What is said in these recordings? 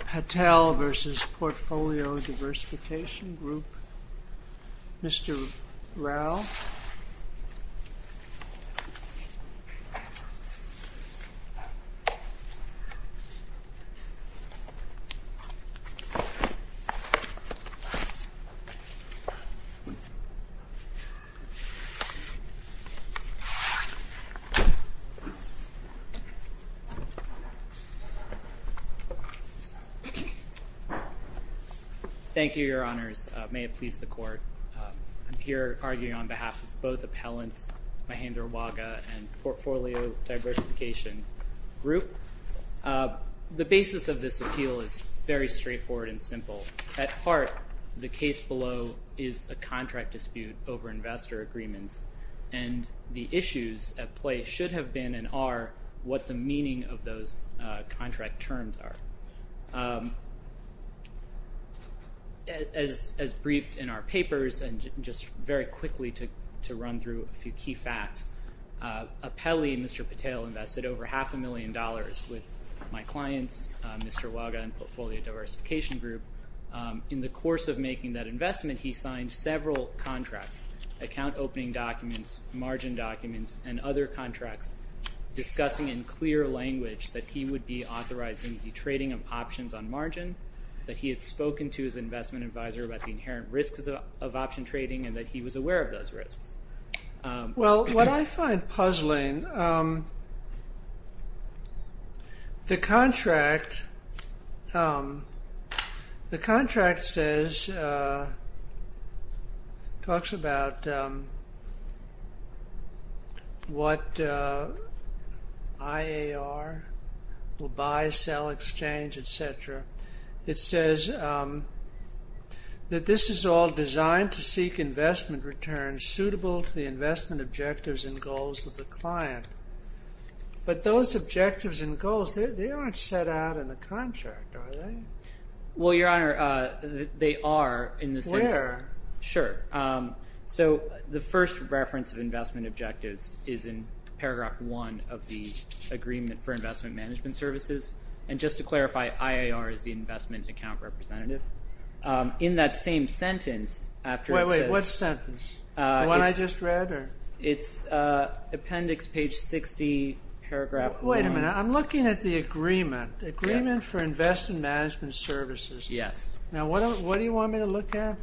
Patel v. Portfolio Diversification Group Mr. Rao Thank you, Your Honors. May it please the Court. I'm here arguing on behalf of both appellants, Mahendra Waga and Portfolio Diversification Group. The basis of this appeal is very straightforward and simple. At heart, the case below is a contract dispute over investor agreements, and the issues at play should have been and are what the meaning of those contract terms are. As briefed in our papers, and just very quickly to run through a few key facts, appellee Mr. Patel invested over half a million dollars with my clients, Mr. Waga and Portfolio Diversification Group. In the course of making that investment, he signed several contracts, account opening documents, margin documents, and other contracts, discussing in clear language that he would be authorizing the trading of options on margin, that he had spoken to his investment advisor about the inherent risks of option trading, and that he was aware of those risks. Well, what I find puzzling, the contract says, talks about what IAR will buy, sell, exchange, etc. It says that this is all designed to seek investment returns suitable to the investment objectives and goals of the client. But those objectives and goals, they aren't set out in the contract, are they? Well, your honor, they are. Where? Sure. So, the first reference of investment objectives is in paragraph one of the agreement for investment management services. And just to clarify, IAR is the investment account representative. Wait, wait, what sentence? The one I just read? It's appendix page 60, paragraph 1. Wait a minute, I'm looking at the agreement, the agreement for investment management services. Yes. Now, what do you want me to look at?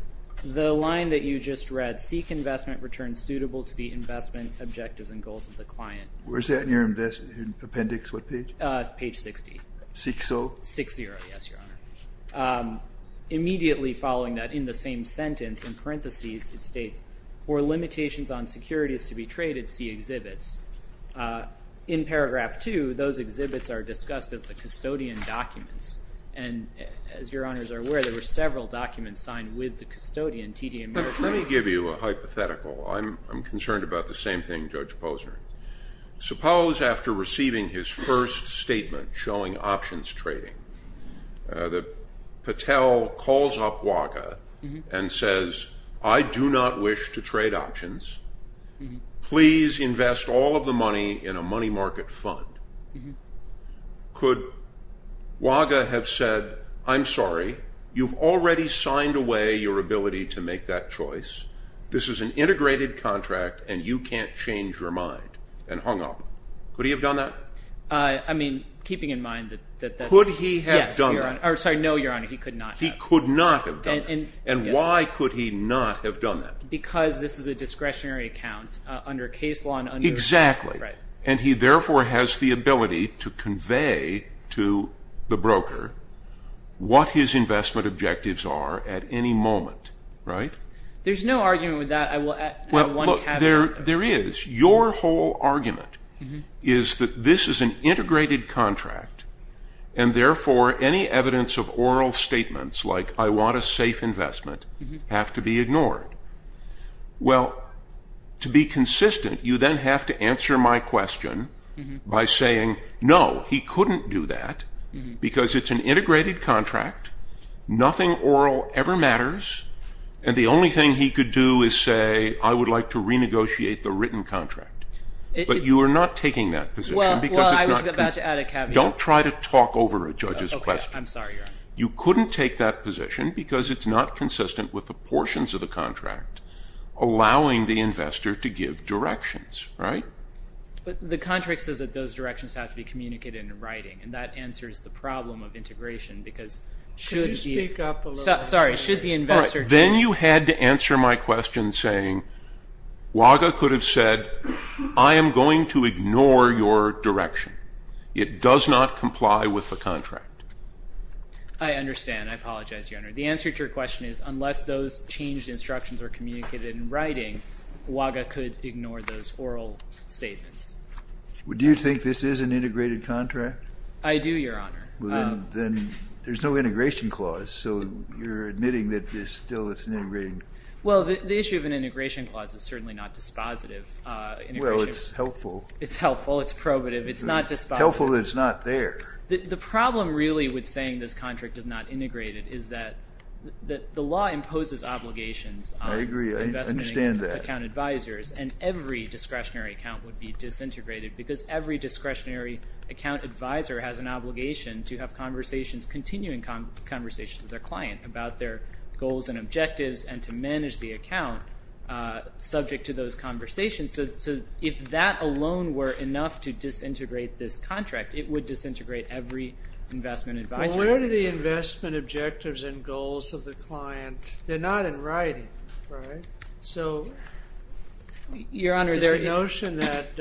The line that you just read, seek investment returns suitable to the investment objectives and goals of the client. Where's that in your appendix, what page? Page 60. Seek so? Seek so, yes, your honor. Immediately following that, in the same sentence, in parentheses, it states, for limitations on securities to be traded, see exhibits. In paragraph two, those exhibits are discussed as the custodian documents. And as your honors are aware, there were several documents signed with the custodian, TD Ameritrade. Let me give you a hypothetical. I'm concerned about the same thing, Judge Posner. Suppose after receiving his first statement showing options trading, that Patel calls up Waga and says, I do not wish to trade options. Please invest all of the money in a money market fund. Could Waga have said, I'm sorry, you've already signed away your ability to make that choice. This is an integrated contract, and you can't change your mind, and hung up. Could he have done that? I mean, keeping in mind that that's... Could he have done that? Yes, your honor. Or sorry, no, your honor, he could not have. He could not have done that. And why could he not have done that? Because this is a discretionary account under case law and under... Exactly. Right. And he therefore has the ability to convey to the broker what his investment objectives are at any moment. Right? There's no argument with that. I will add one caveat. There is. Your whole argument is that this is an integrated contract, and therefore any evidence of oral statements like, I want a safe investment, have to be ignored. Well, to be consistent, you then have to answer my question by saying, no, he couldn't do that, because it's an integrated contract, nothing oral ever matters, and the only thing he could do is say, I would like to renegotiate the written contract. But you are not taking that position because it's not... Allowing the investor to give directions. Right? But the contract says that those directions have to be communicated in writing, and that answers the problem of integration, because should the... Could you speak up a little bit? Sorry, should the investor... All right, then you had to answer my question saying, Waga could have said, I am going to ignore your direction. It does not comply with the contract. I understand. I apologize, Your Honor. The answer to your question is, unless those changed instructions are communicated in writing, Waga could ignore those oral statements. Do you think this is an integrated contract? I do, Your Honor. Then there's no integration clause, so you're admitting that this still is an integrated... Well, the issue of an integration clause is certainly not dispositive. Well, it's helpful. It's helpful. It's probative. It's not dispositive. It's helpful that it's not there. The problem really with saying this contract is not integrated is that the law imposes obligations on investment account advisors. I agree. I understand that. And every discretionary account would be disintegrated because every discretionary account advisor has an obligation to have conversations, continuing conversations with their client about their goals and objectives and to manage the account subject to those conversations. So if that alone were enough to disintegrate this contract, it would disintegrate every investment advisor. Well, where do the investment objectives and goals of the client – they're not in writing, right? So, Your Honor, there is a notion that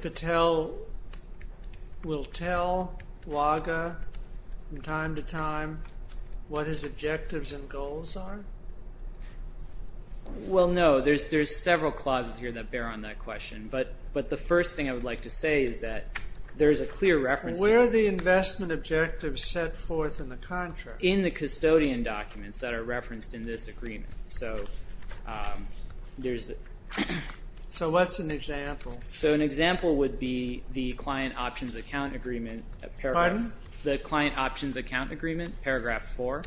Patel will tell Waga from time to time what his objectives and goals are? Well, no. There's several clauses here that bear on that question. But the first thing I would like to say is that there's a clear reference... Where are the investment objectives set forth in the contract? In the custodian documents that are referenced in this agreement. So what's an example? So an example would be the Client Options Account Agreement, Paragraph 4.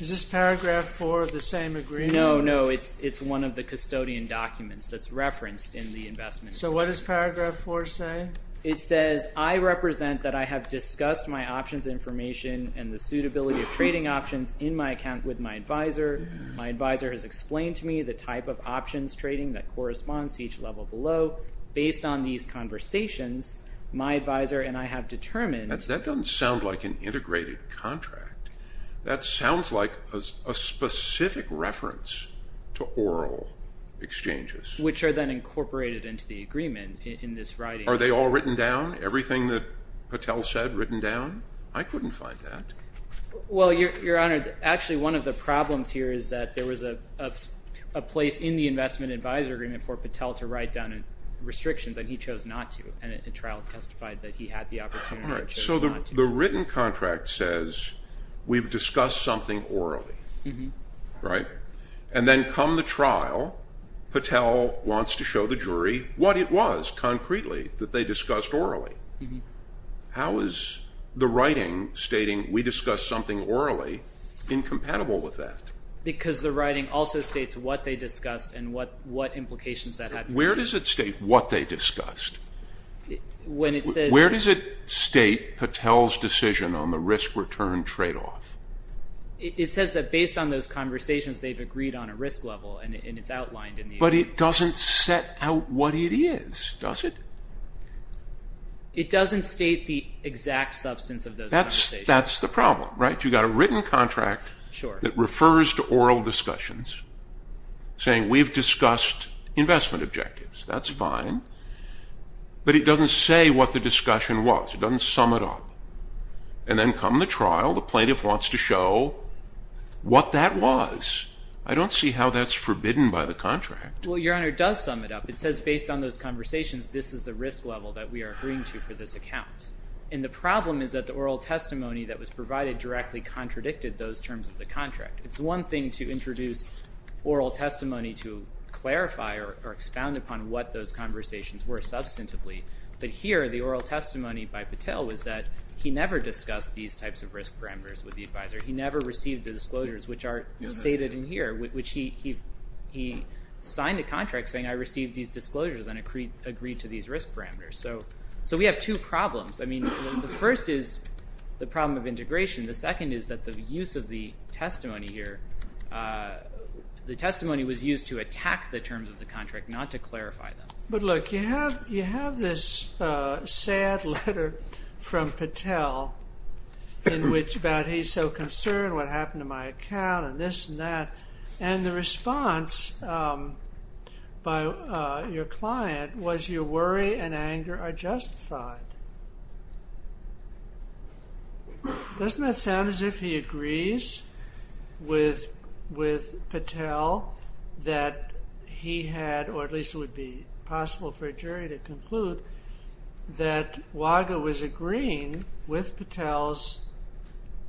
Is this Paragraph 4 of the same agreement? No, no. It's one of the custodian documents that's referenced in the investment agreement. So what does Paragraph 4 say? It says, I represent that I have discussed my options information and the suitability of trading options in my account with my advisor. My advisor has explained to me the type of options trading that corresponds to each level below. Based on these conversations, my advisor and I have determined... That doesn't sound like an integrated contract. That sounds like a specific reference to oral exchanges. Which are then incorporated into the agreement in this writing. Are they all written down? Everything that Patel said written down? I couldn't find that. Well, Your Honor, actually one of the problems here is that there was a place in the investment advisor agreement for Patel to write down restrictions, and he chose not to. And a trial testified that he had the opportunity, but chose not to. So the written contract says, we've discussed something orally. Right? And then come the trial, Patel wants to show the jury what it was, concretely, that they discussed orally. How is the writing stating, we discussed something orally, incompatible with that? Because the writing also states what they discussed and what implications that had. Where does it state what they discussed? Where does it state Patel's decision on the risk-return tradeoff? It says that based on those conversations, they've agreed on a risk level, and it's outlined in the agreement. But it doesn't set out what it is, does it? It doesn't state the exact substance of those conversations. That's the problem, right? You've got a written contract that refers to oral discussions, saying we've discussed investment objectives. That's fine. But it doesn't say what the discussion was. It doesn't sum it up. And then come the trial, the plaintiff wants to show what that was. I don't see how that's forbidden by the contract. Well, Your Honor, it does sum it up. It says based on those conversations, this is the risk level that we are agreeing to for this account. And the problem is that the oral testimony that was provided directly contradicted those terms of the contract. It's one thing to introduce oral testimony to clarify or expound upon what those conversations were substantively. But here, the oral testimony by Patel was that he never discussed these types of risk parameters with the advisor. He never received the disclosures, which are stated in here, which he signed a contract saying, I received these disclosures and agreed to these risk parameters. So we have two problems. I mean, the first is the problem of integration. The second is that the use of the testimony here, the testimony was used to attack the terms of the contract, not to clarify them. But look, you have this sad letter from Patel about he's so concerned what happened to my account and this and that. And the response by your client was your worry and anger are justified. Doesn't that sound as if he agrees with Patel that he had, or at least it would be possible for a jury to conclude, that Waga was agreeing with Patel's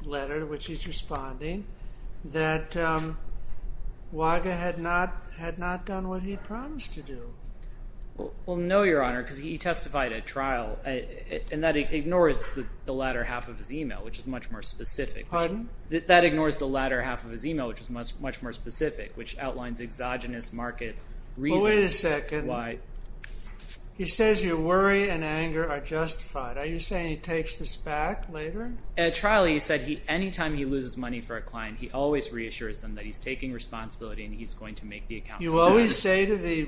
letter, which he's responding, that Waga had not done what he promised to do? Well, no, Your Honor, because he testified at trial, and that ignores the latter half of his email, which is much more specific. Pardon? That ignores the latter half of his email, which is much more specific, which outlines exogenous market reasons. Well, wait a second. Why? He says your worry and anger are justified. Are you saying he takes this back later? At trial, he said any time he loses money for a client, he always reassures them that he's taking responsibility and he's going to make the account better. You always say to the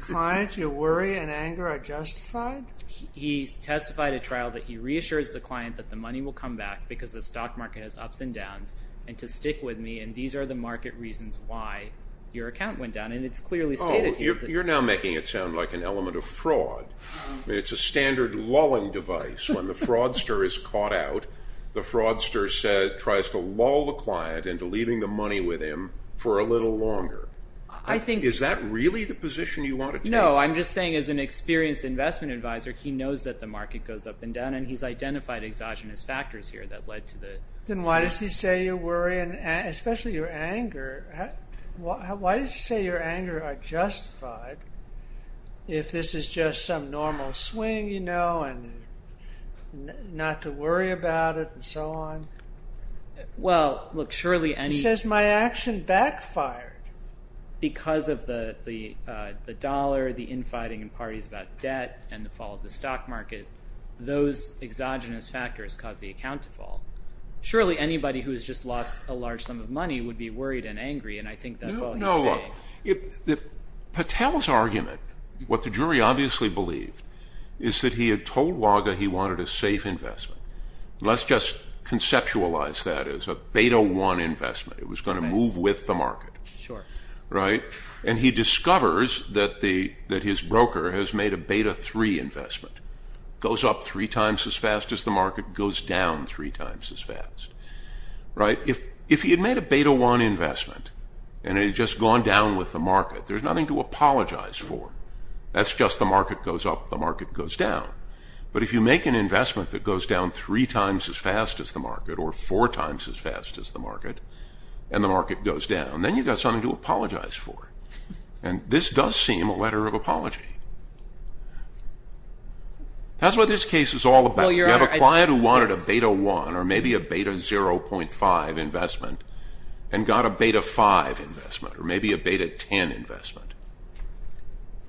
client your worry and anger are justified? He testified at trial that he reassures the client that the money will come back because the stock market has ups and downs, and to stick with me, and these are the market reasons why your account went down, and it's clearly stated here. Oh, you're now making it sound like an element of fraud. It's a standard lulling device. When the fraudster is caught out, the fraudster tries to lull the client into leaving the money with him for a little longer. Is that really the position you want it to be? No, I'm just saying as an experienced investment advisor, he knows that the market goes up and down, and he's identified exogenous factors here that led to the. Then why does he say your worry and especially your anger, why does he say your anger are justified if this is just some normal swing, you know, and not to worry about it and so on? Well, look, surely any. He says my action backfired. Because of the dollar, the infighting in parties about debt, and the fall of the stock market, those exogenous factors caused the account to fall. Surely anybody who has just lost a large sum of money would be worried and angry, and I think that's all he's saying. No, look, Patel's argument, what the jury obviously believed, is that he had told Waga he wanted a safe investment. Let's just conceptualize that as a beta-1 investment. It was going to move with the market. Sure. Right? And he discovers that his broker has made a beta-3 investment, goes up three times as fast as the market, goes down three times as fast. Right? If he had made a beta-1 investment, and it had just gone down with the market, there's nothing to apologize for. That's just the market goes up, the market goes down. But if you make an investment that goes down three times as fast as the market, or four times as fast as the market, and the market goes down, then you've got something to apologize for. And this does seem a letter of apology. That's what this case is all about. You have a client who wanted a beta-1, or maybe a beta-0.5 investment, and got a beta-5 investment, or maybe a beta-10 investment.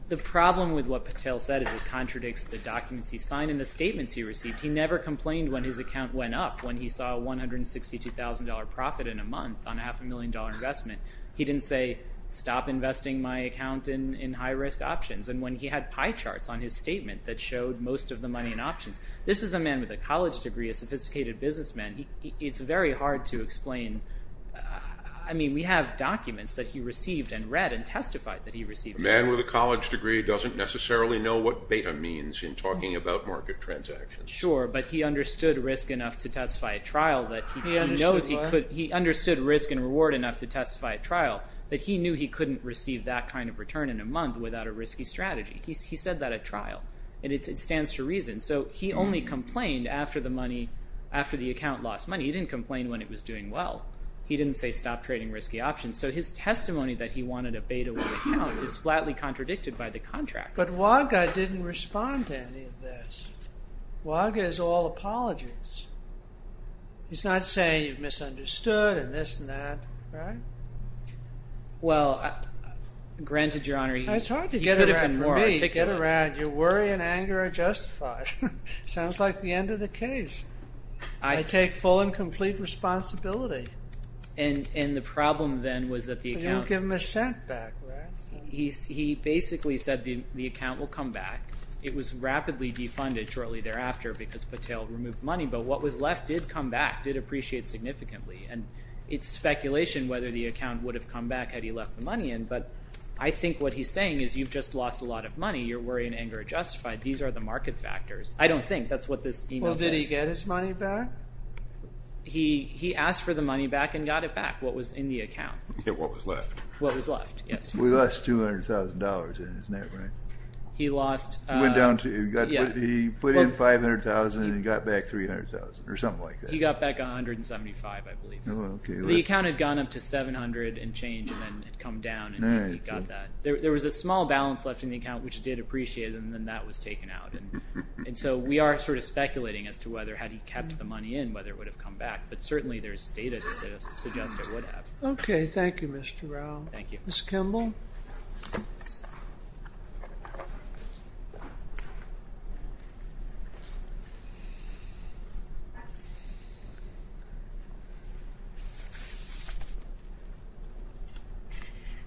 The problem with what Patel said is it contradicts the documents he signed and the statements he received. He never complained when his account went up. When he saw a $162,000 profit in a month on a half-a-million-dollar investment, he didn't say, stop investing my account in high-risk options. And when he had pie charts on his statement that showed most of the money in options. This is a man with a college degree, a sophisticated businessman. It's very hard to explain. I mean, we have documents that he received and read and testified that he received. A man with a college degree doesn't necessarily know what beta means in talking about market transactions. Sure, but he understood risk enough to testify at trial that he knew he couldn't receive that kind of return in a month without a risky strategy. He said that at trial, and it stands to reason. So he only complained after the account lost money. He didn't complain when it was doing well. He didn't say stop trading risky options. So his testimony that he wanted a beta with the account is flatly contradicted by the contracts. But Waga didn't respond to any of this. Waga is all apologies. He's not saying you've misunderstood and this and that, right? Well, granted, Your Honor, he could have been more articulate. It's hard to get around for me. Get around. Your worry and anger are justified. Sounds like the end of the case. I take full and complete responsibility. And the problem then was that the account. I didn't give him a cent back, right? He basically said the account will come back. It was rapidly defunded shortly thereafter because Patel removed money. But what was left did come back, did appreciate significantly. And it's speculation whether the account would have come back had he left the money in. But I think what he's saying is you've just lost a lot of money. Your worry and anger are justified. These are the market factors. I don't think. That's what this email says. Well, did he get his money back? He asked for the money back and got it back, what was in the account. Yeah, what was left. What was left, yes. He lost $200,000 in his net, right? He lost. He went down to. He put in $500,000 and he got back $300,000 or something like that. He got back $175,000, I believe. The account had gone up to $700,000 and changed and then had come down and he got that. There was a small balance left in the account, which it did appreciate, and then that was taken out. We are sort of speculating as to whether had he kept the money in, whether it would have come back. But certainly there's data to suggest it would have. Okay. Thank you, Mr. Rao. Thank you. Mr. Kimball.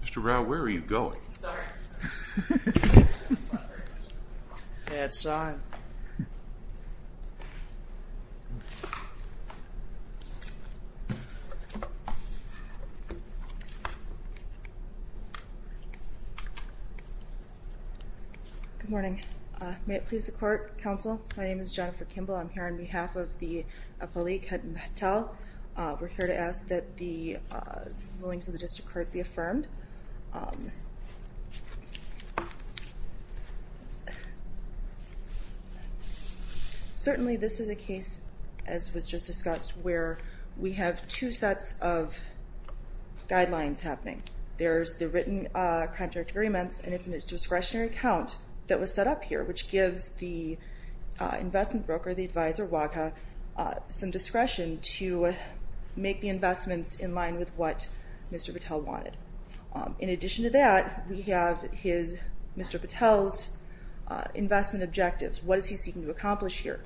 Mr. Rao, where are you going? Sorry. He's gone. Good morning. May it please the court. Counsel, my name is Jennifer Kimball. I'm here on behalf of the Appalachian Hotel. We're here to ask that the rulings of the district court be affirmed. Certainly this is a case, as was just discussed, where we have two sets of guidelines happening. There's the written contract agreements and it's a discretionary account that was set up here, which gives the investment broker, the advisor, WACA, some discretion to make the investments in line with what Mr. Patel wanted. In addition to that, we have Mr. Patel's investment objectives. What is he seeking to accomplish here?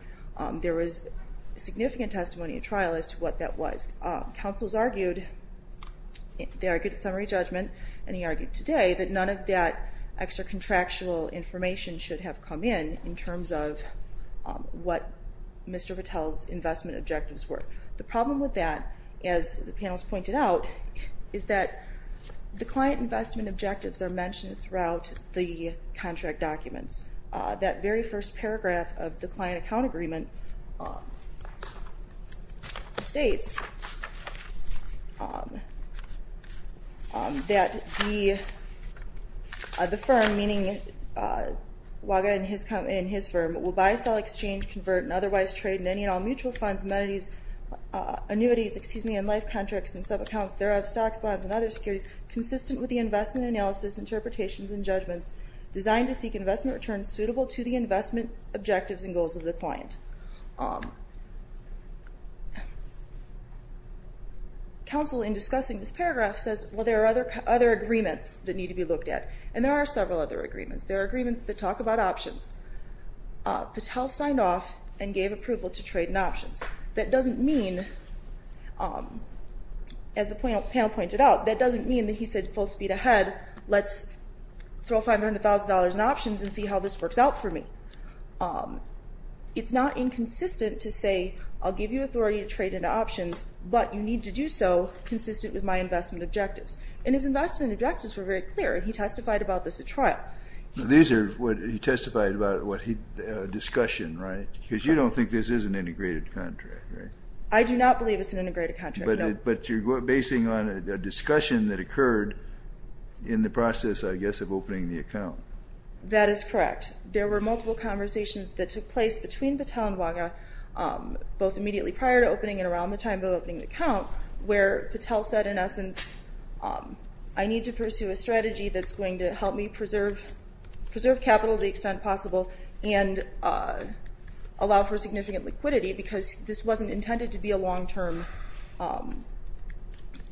There was significant testimony at trial as to what that was. Counsel's argued, they argued at summary judgment, and he argued today, that none of that extra contractual information should have come in in terms of what Mr. Patel's investment objectives were. The problem with that, as the panel has pointed out, is that the client investment objectives are mentioned throughout the contract documents. That very first paragraph of the client account agreement states that the firm, meaning WACA and his firm, will buy, sell, exchange, convert, and otherwise trade in any and all mutual funds, amenities, annuities, and life contracts and subaccounts, thereof, stocks, bonds, and other securities consistent with the investment analysis, interpretations, and judgments designed to seek investment returns suitable to the investment objectives and goals of the client. Counsel, in discussing this paragraph, says, well, there are other agreements that need to be looked at. And there are several other agreements. There are agreements that talk about options. Patel signed off and gave approval to trade in options. That doesn't mean, as the panel pointed out, that doesn't mean that he said full speed ahead, let's throw $500,000 in options and see how this works out for me. It's not inconsistent to say, I'll give you authority to trade in options, but you need to do so consistent with my investment objectives. And his investment objectives were very clear, and he testified about this at trial. He testified about a discussion, right? Because you don't think this is an integrated contract, right? I do not believe it's an integrated contract, no. But you're basing on a discussion that occurred in the process, I guess, of opening the account. That is correct. There were multiple conversations that took place between Patel and WACA, both immediately prior to opening and around the time of opening the account, where Patel said, in essence, I need to pursue a strategy that's going to help me preserve capital to the extent possible and allow for significant liquidity because this wasn't intended to be a long-term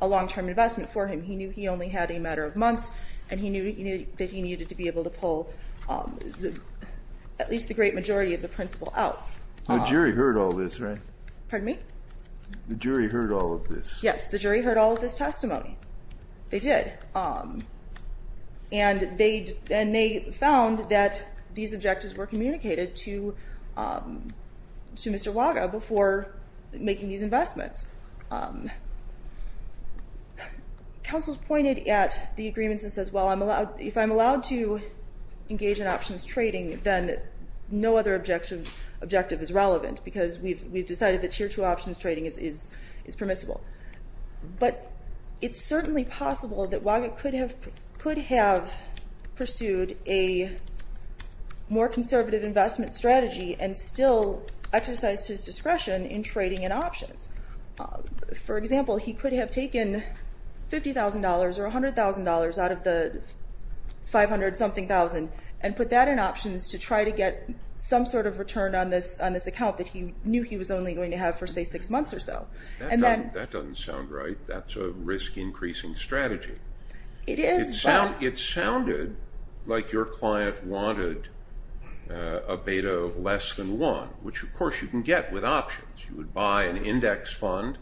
investment for him. He knew he only had a matter of months, and he knew that he needed to be able to pull at least the great majority of the principal out. The jury heard all this, right? Pardon me? The jury heard all of this. Yes, the jury heard all of this testimony. They did. And they found that these objectives were communicated to Mr. WACA before making these investments. Counsel pointed at the agreements and says, well, if I'm allowed to engage in options trading, then no other objective is relevant because we've decided that Tier 2 options trading is permissible. But it's certainly possible that WACA could have pursued a more conservative investment strategy and still exercised his discretion in trading in options. For example, he could have taken $50,000 or $100,000 out of the $500-something thousand and put that in options to try to get some sort of return on this account that he knew he was only going to have for, say, six months or so. That doesn't sound right. That's a risk-increasing strategy. It is, but… It sounded like your client wanted a beta of less than one, which, of course, you can get with options. You would buy an index fund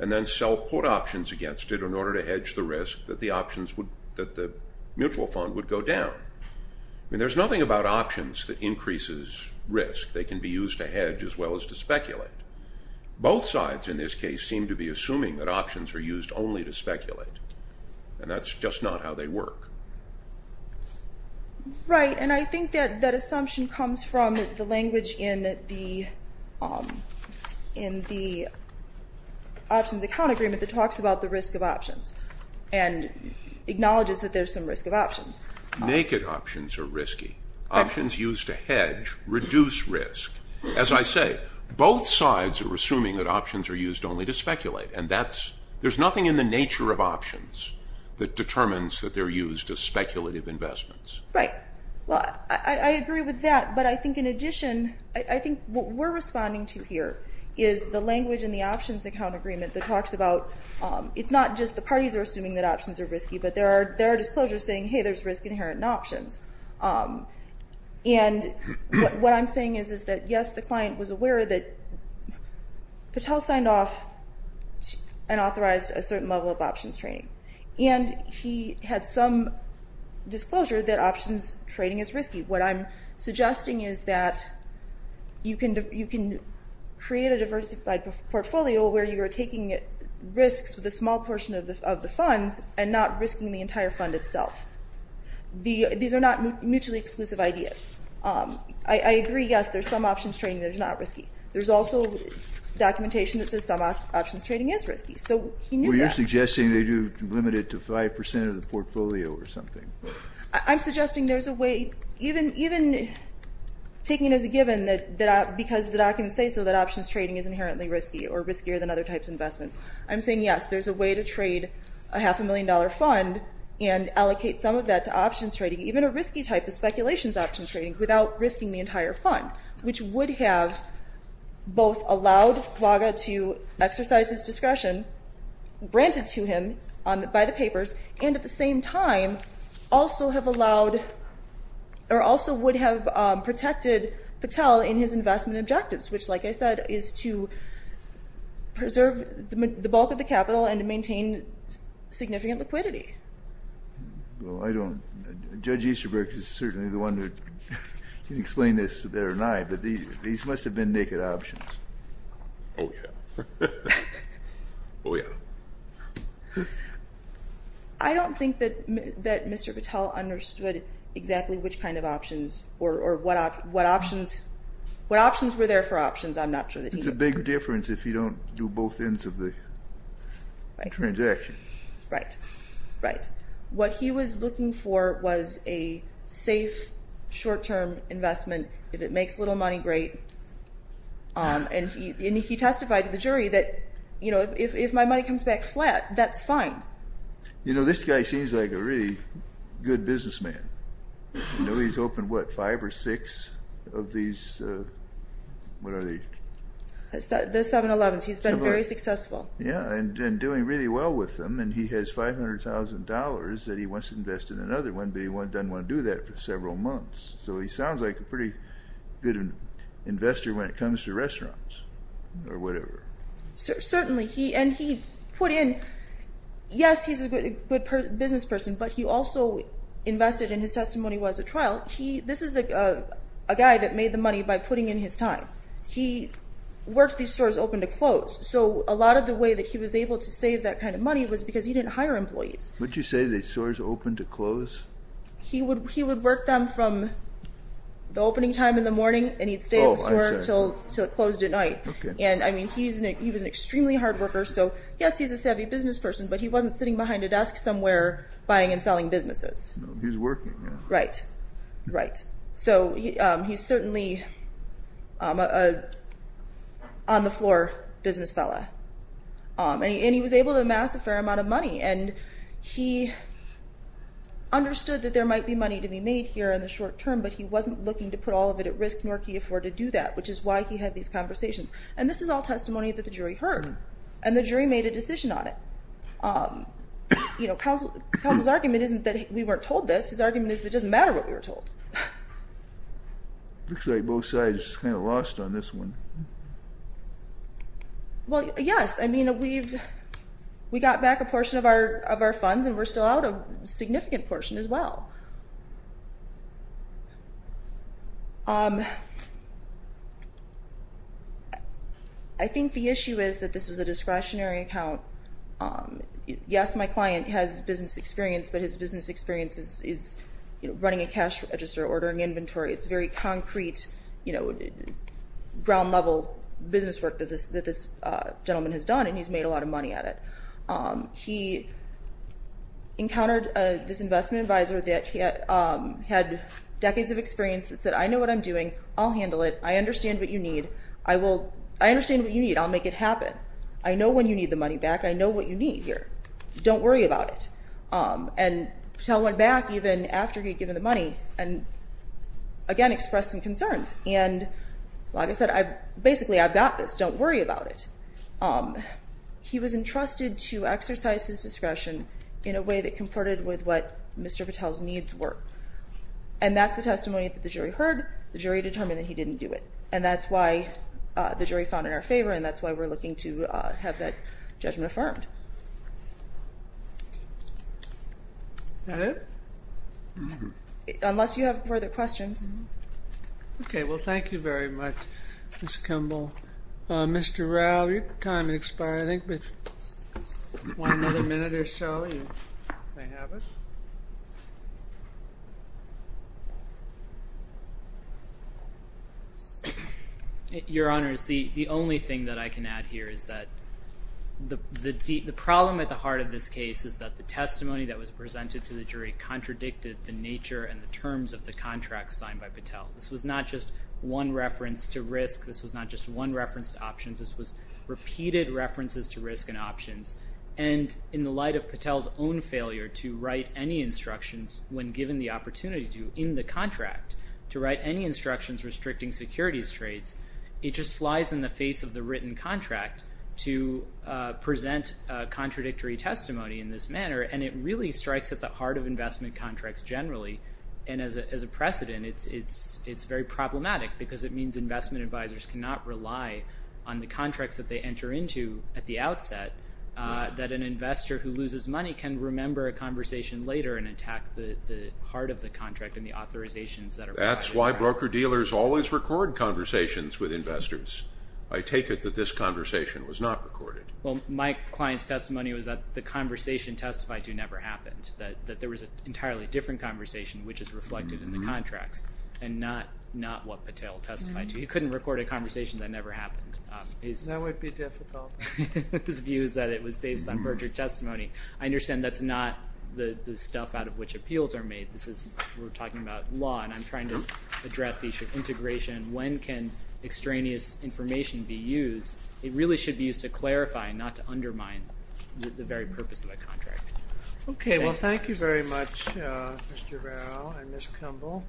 and then put options against it in order to hedge the risk that the mutual fund would go down. I mean, there's nothing about options that increases risk. They can be used to hedge as well as to speculate. Both sides in this case seem to be assuming that options are used only to speculate, and that's just not how they work. Right, and I think that that assumption comes from the language in the options account agreement that talks about the risk of options and acknowledges that there's some risk of options. Naked options are risky. Options used to hedge reduce risk. As I say, both sides are assuming that options are used only to speculate, and there's nothing in the nature of options that determines that they're used as speculative investments. Right. Well, I agree with that, but I think in addition, I think what we're responding to here is the language in the options account agreement that talks about it's not just the parties are assuming that options are risky, but there are disclosures saying, hey, there's risk inherent in options. And what I'm saying is that, yes, the client was aware that Patel signed off and authorized a certain level of options trading, and he had some disclosure that options trading is risky. What I'm suggesting is that you can create a diversified portfolio where you are taking risks with a small portion of the funds and not risking the entire fund itself. These are not mutually exclusive ideas. I agree, yes, there's some options trading that is not risky. There's also documentation that says some options trading is risky. So he knew that. Well, you're suggesting they do limit it to 5% of the portfolio or something. I'm suggesting there's a way, even taking it as a given that because the documents say so, that options trading is inherently risky or riskier than other types of investments. I'm saying, yes, there's a way to trade a half-a-million-dollar fund and allocate some of that to options trading, even a risky type of speculations options trading, without risking the entire fund, which would have both allowed FUAGA to exercise its discretion, granted to him by the papers, and at the same time also would have protected Patel in his investment objectives, which, like I said, is to preserve the bulk of the capital and to maintain significant liquidity. Well, I don't. Judge Easterbrook is certainly the one who can explain this better than I, but these must have been naked options. Oh, yeah. Oh, yeah. I don't think that Mr. Patel understood exactly which kind of options or what options were there for options. I'm not sure that he knew. It's a big difference if you don't do both ends of the transaction. Right, right. What he was looking for was a safe, short-term investment. If it makes little money, great. And he testified to the jury that, you know, if my money comes back flat, that's fine. You know, this guy seems like a really good businessman. You know, he's opened, what, five or six of these, what are they? The 7-Elevens. He's been very successful. Yeah, and doing really well with them. And he has $500,000 that he wants to invest in another one, but he doesn't want to do that for several months. So he sounds like a pretty good investor when it comes to restaurants or whatever. Certainly. And he put in, yes, he's a good business person, but he also invested in his testimony while he was at trial. This is a guy that made the money by putting in his time. He works these stores open to close. So a lot of the way that he was able to save that kind of money was because he didn't hire employees. Would you say the stores open to close? He would work them from the opening time in the morning, and he'd stay at the store until it closed at night. Okay. And, I mean, he was an extremely hard worker. So, yes, he's a savvy business person, but he wasn't sitting behind a desk somewhere buying and selling businesses. He's working now. Right, right. So he's certainly an on-the-floor business fellow. And he was able to amass a fair amount of money, and he understood that there might be money to be made here in the short term, but he wasn't looking to put all of it at risk, nor could he afford to do that, which is why he had these conversations. And this is all testimony that the jury heard, and the jury made a decision on it. You know, counsel's argument isn't that we weren't told this. His argument is it doesn't matter what we were told. Looks like both sides kind of lost on this one. Well, yes. I mean, we got back a portion of our funds, and we're still out a significant portion as well. I think the issue is that this was a discretionary account. Yes, my client has business experience, but his business experience is running a cash register, ordering inventory. It's very concrete, you know, ground-level business work that this gentleman has done, and he's made a lot of money at it. He encountered this investment advisor that had decades of experience that said, I know what I'm doing. I'll handle it. I understand what you need. I understand what you need. I'll make it happen. I know when you need the money back. I know what you need here. Don't worry about it. And Patel went back even after he had given the money and, again, expressed some concerns. And like I said, basically, I've got this. Don't worry about it. He was entrusted to exercise his discretion in a way that comported with what Mr. Patel's needs were. And that's the testimony that the jury heard. The jury determined that he didn't do it. And that's why the jury found it in our favor, and that's why we're looking to have that judgment affirmed. Is that it? Unless you have further questions. Okay. Well, thank you very much, Ms. Kimball. Mr. Rao, your time has expired, I think. But if you want another minute or so, you may have it. Your Honors, the only thing that I can add here is that the problem at the heart of this case is that the testimony that was presented to the jury contradicted the nature and the terms of the contract signed by Patel. This was not just one reference to risk. This was not just one reference to options. This was repeated references to risk and options. And in the light of Patel's own failure to write any instructions, when given the opportunity to in the contract, to write any instructions restricting securities trades, it just flies in the face of the written contract to present contradictory testimony in this manner, and it really strikes at the heart of investment contracts generally. And as a precedent, it's very problematic because it means investment advisors cannot rely on the contracts that they enter into at the outset that an investor who loses money can remember a conversation later and attack the heart of the contract and the authorizations that are required. That's why broker-dealers always record conversations with investors. I take it that this conversation was not recorded. Well, my client's testimony was that the conversation testified to never happened, that there was an entirely different conversation which is reflected in the contracts and not what Patel testified to. He couldn't record a conversation that never happened. That would be difficult. His view is that it was based on brokered testimony. I understand that's not the stuff out of which appeals are made. We're talking about law, and I'm trying to address the issue of integration. When can extraneous information be used? It really should be used to clarify and not to undermine the very purpose of a contract. Okay, well, thank you very much, Mr. Barrow and Ms. Kumble.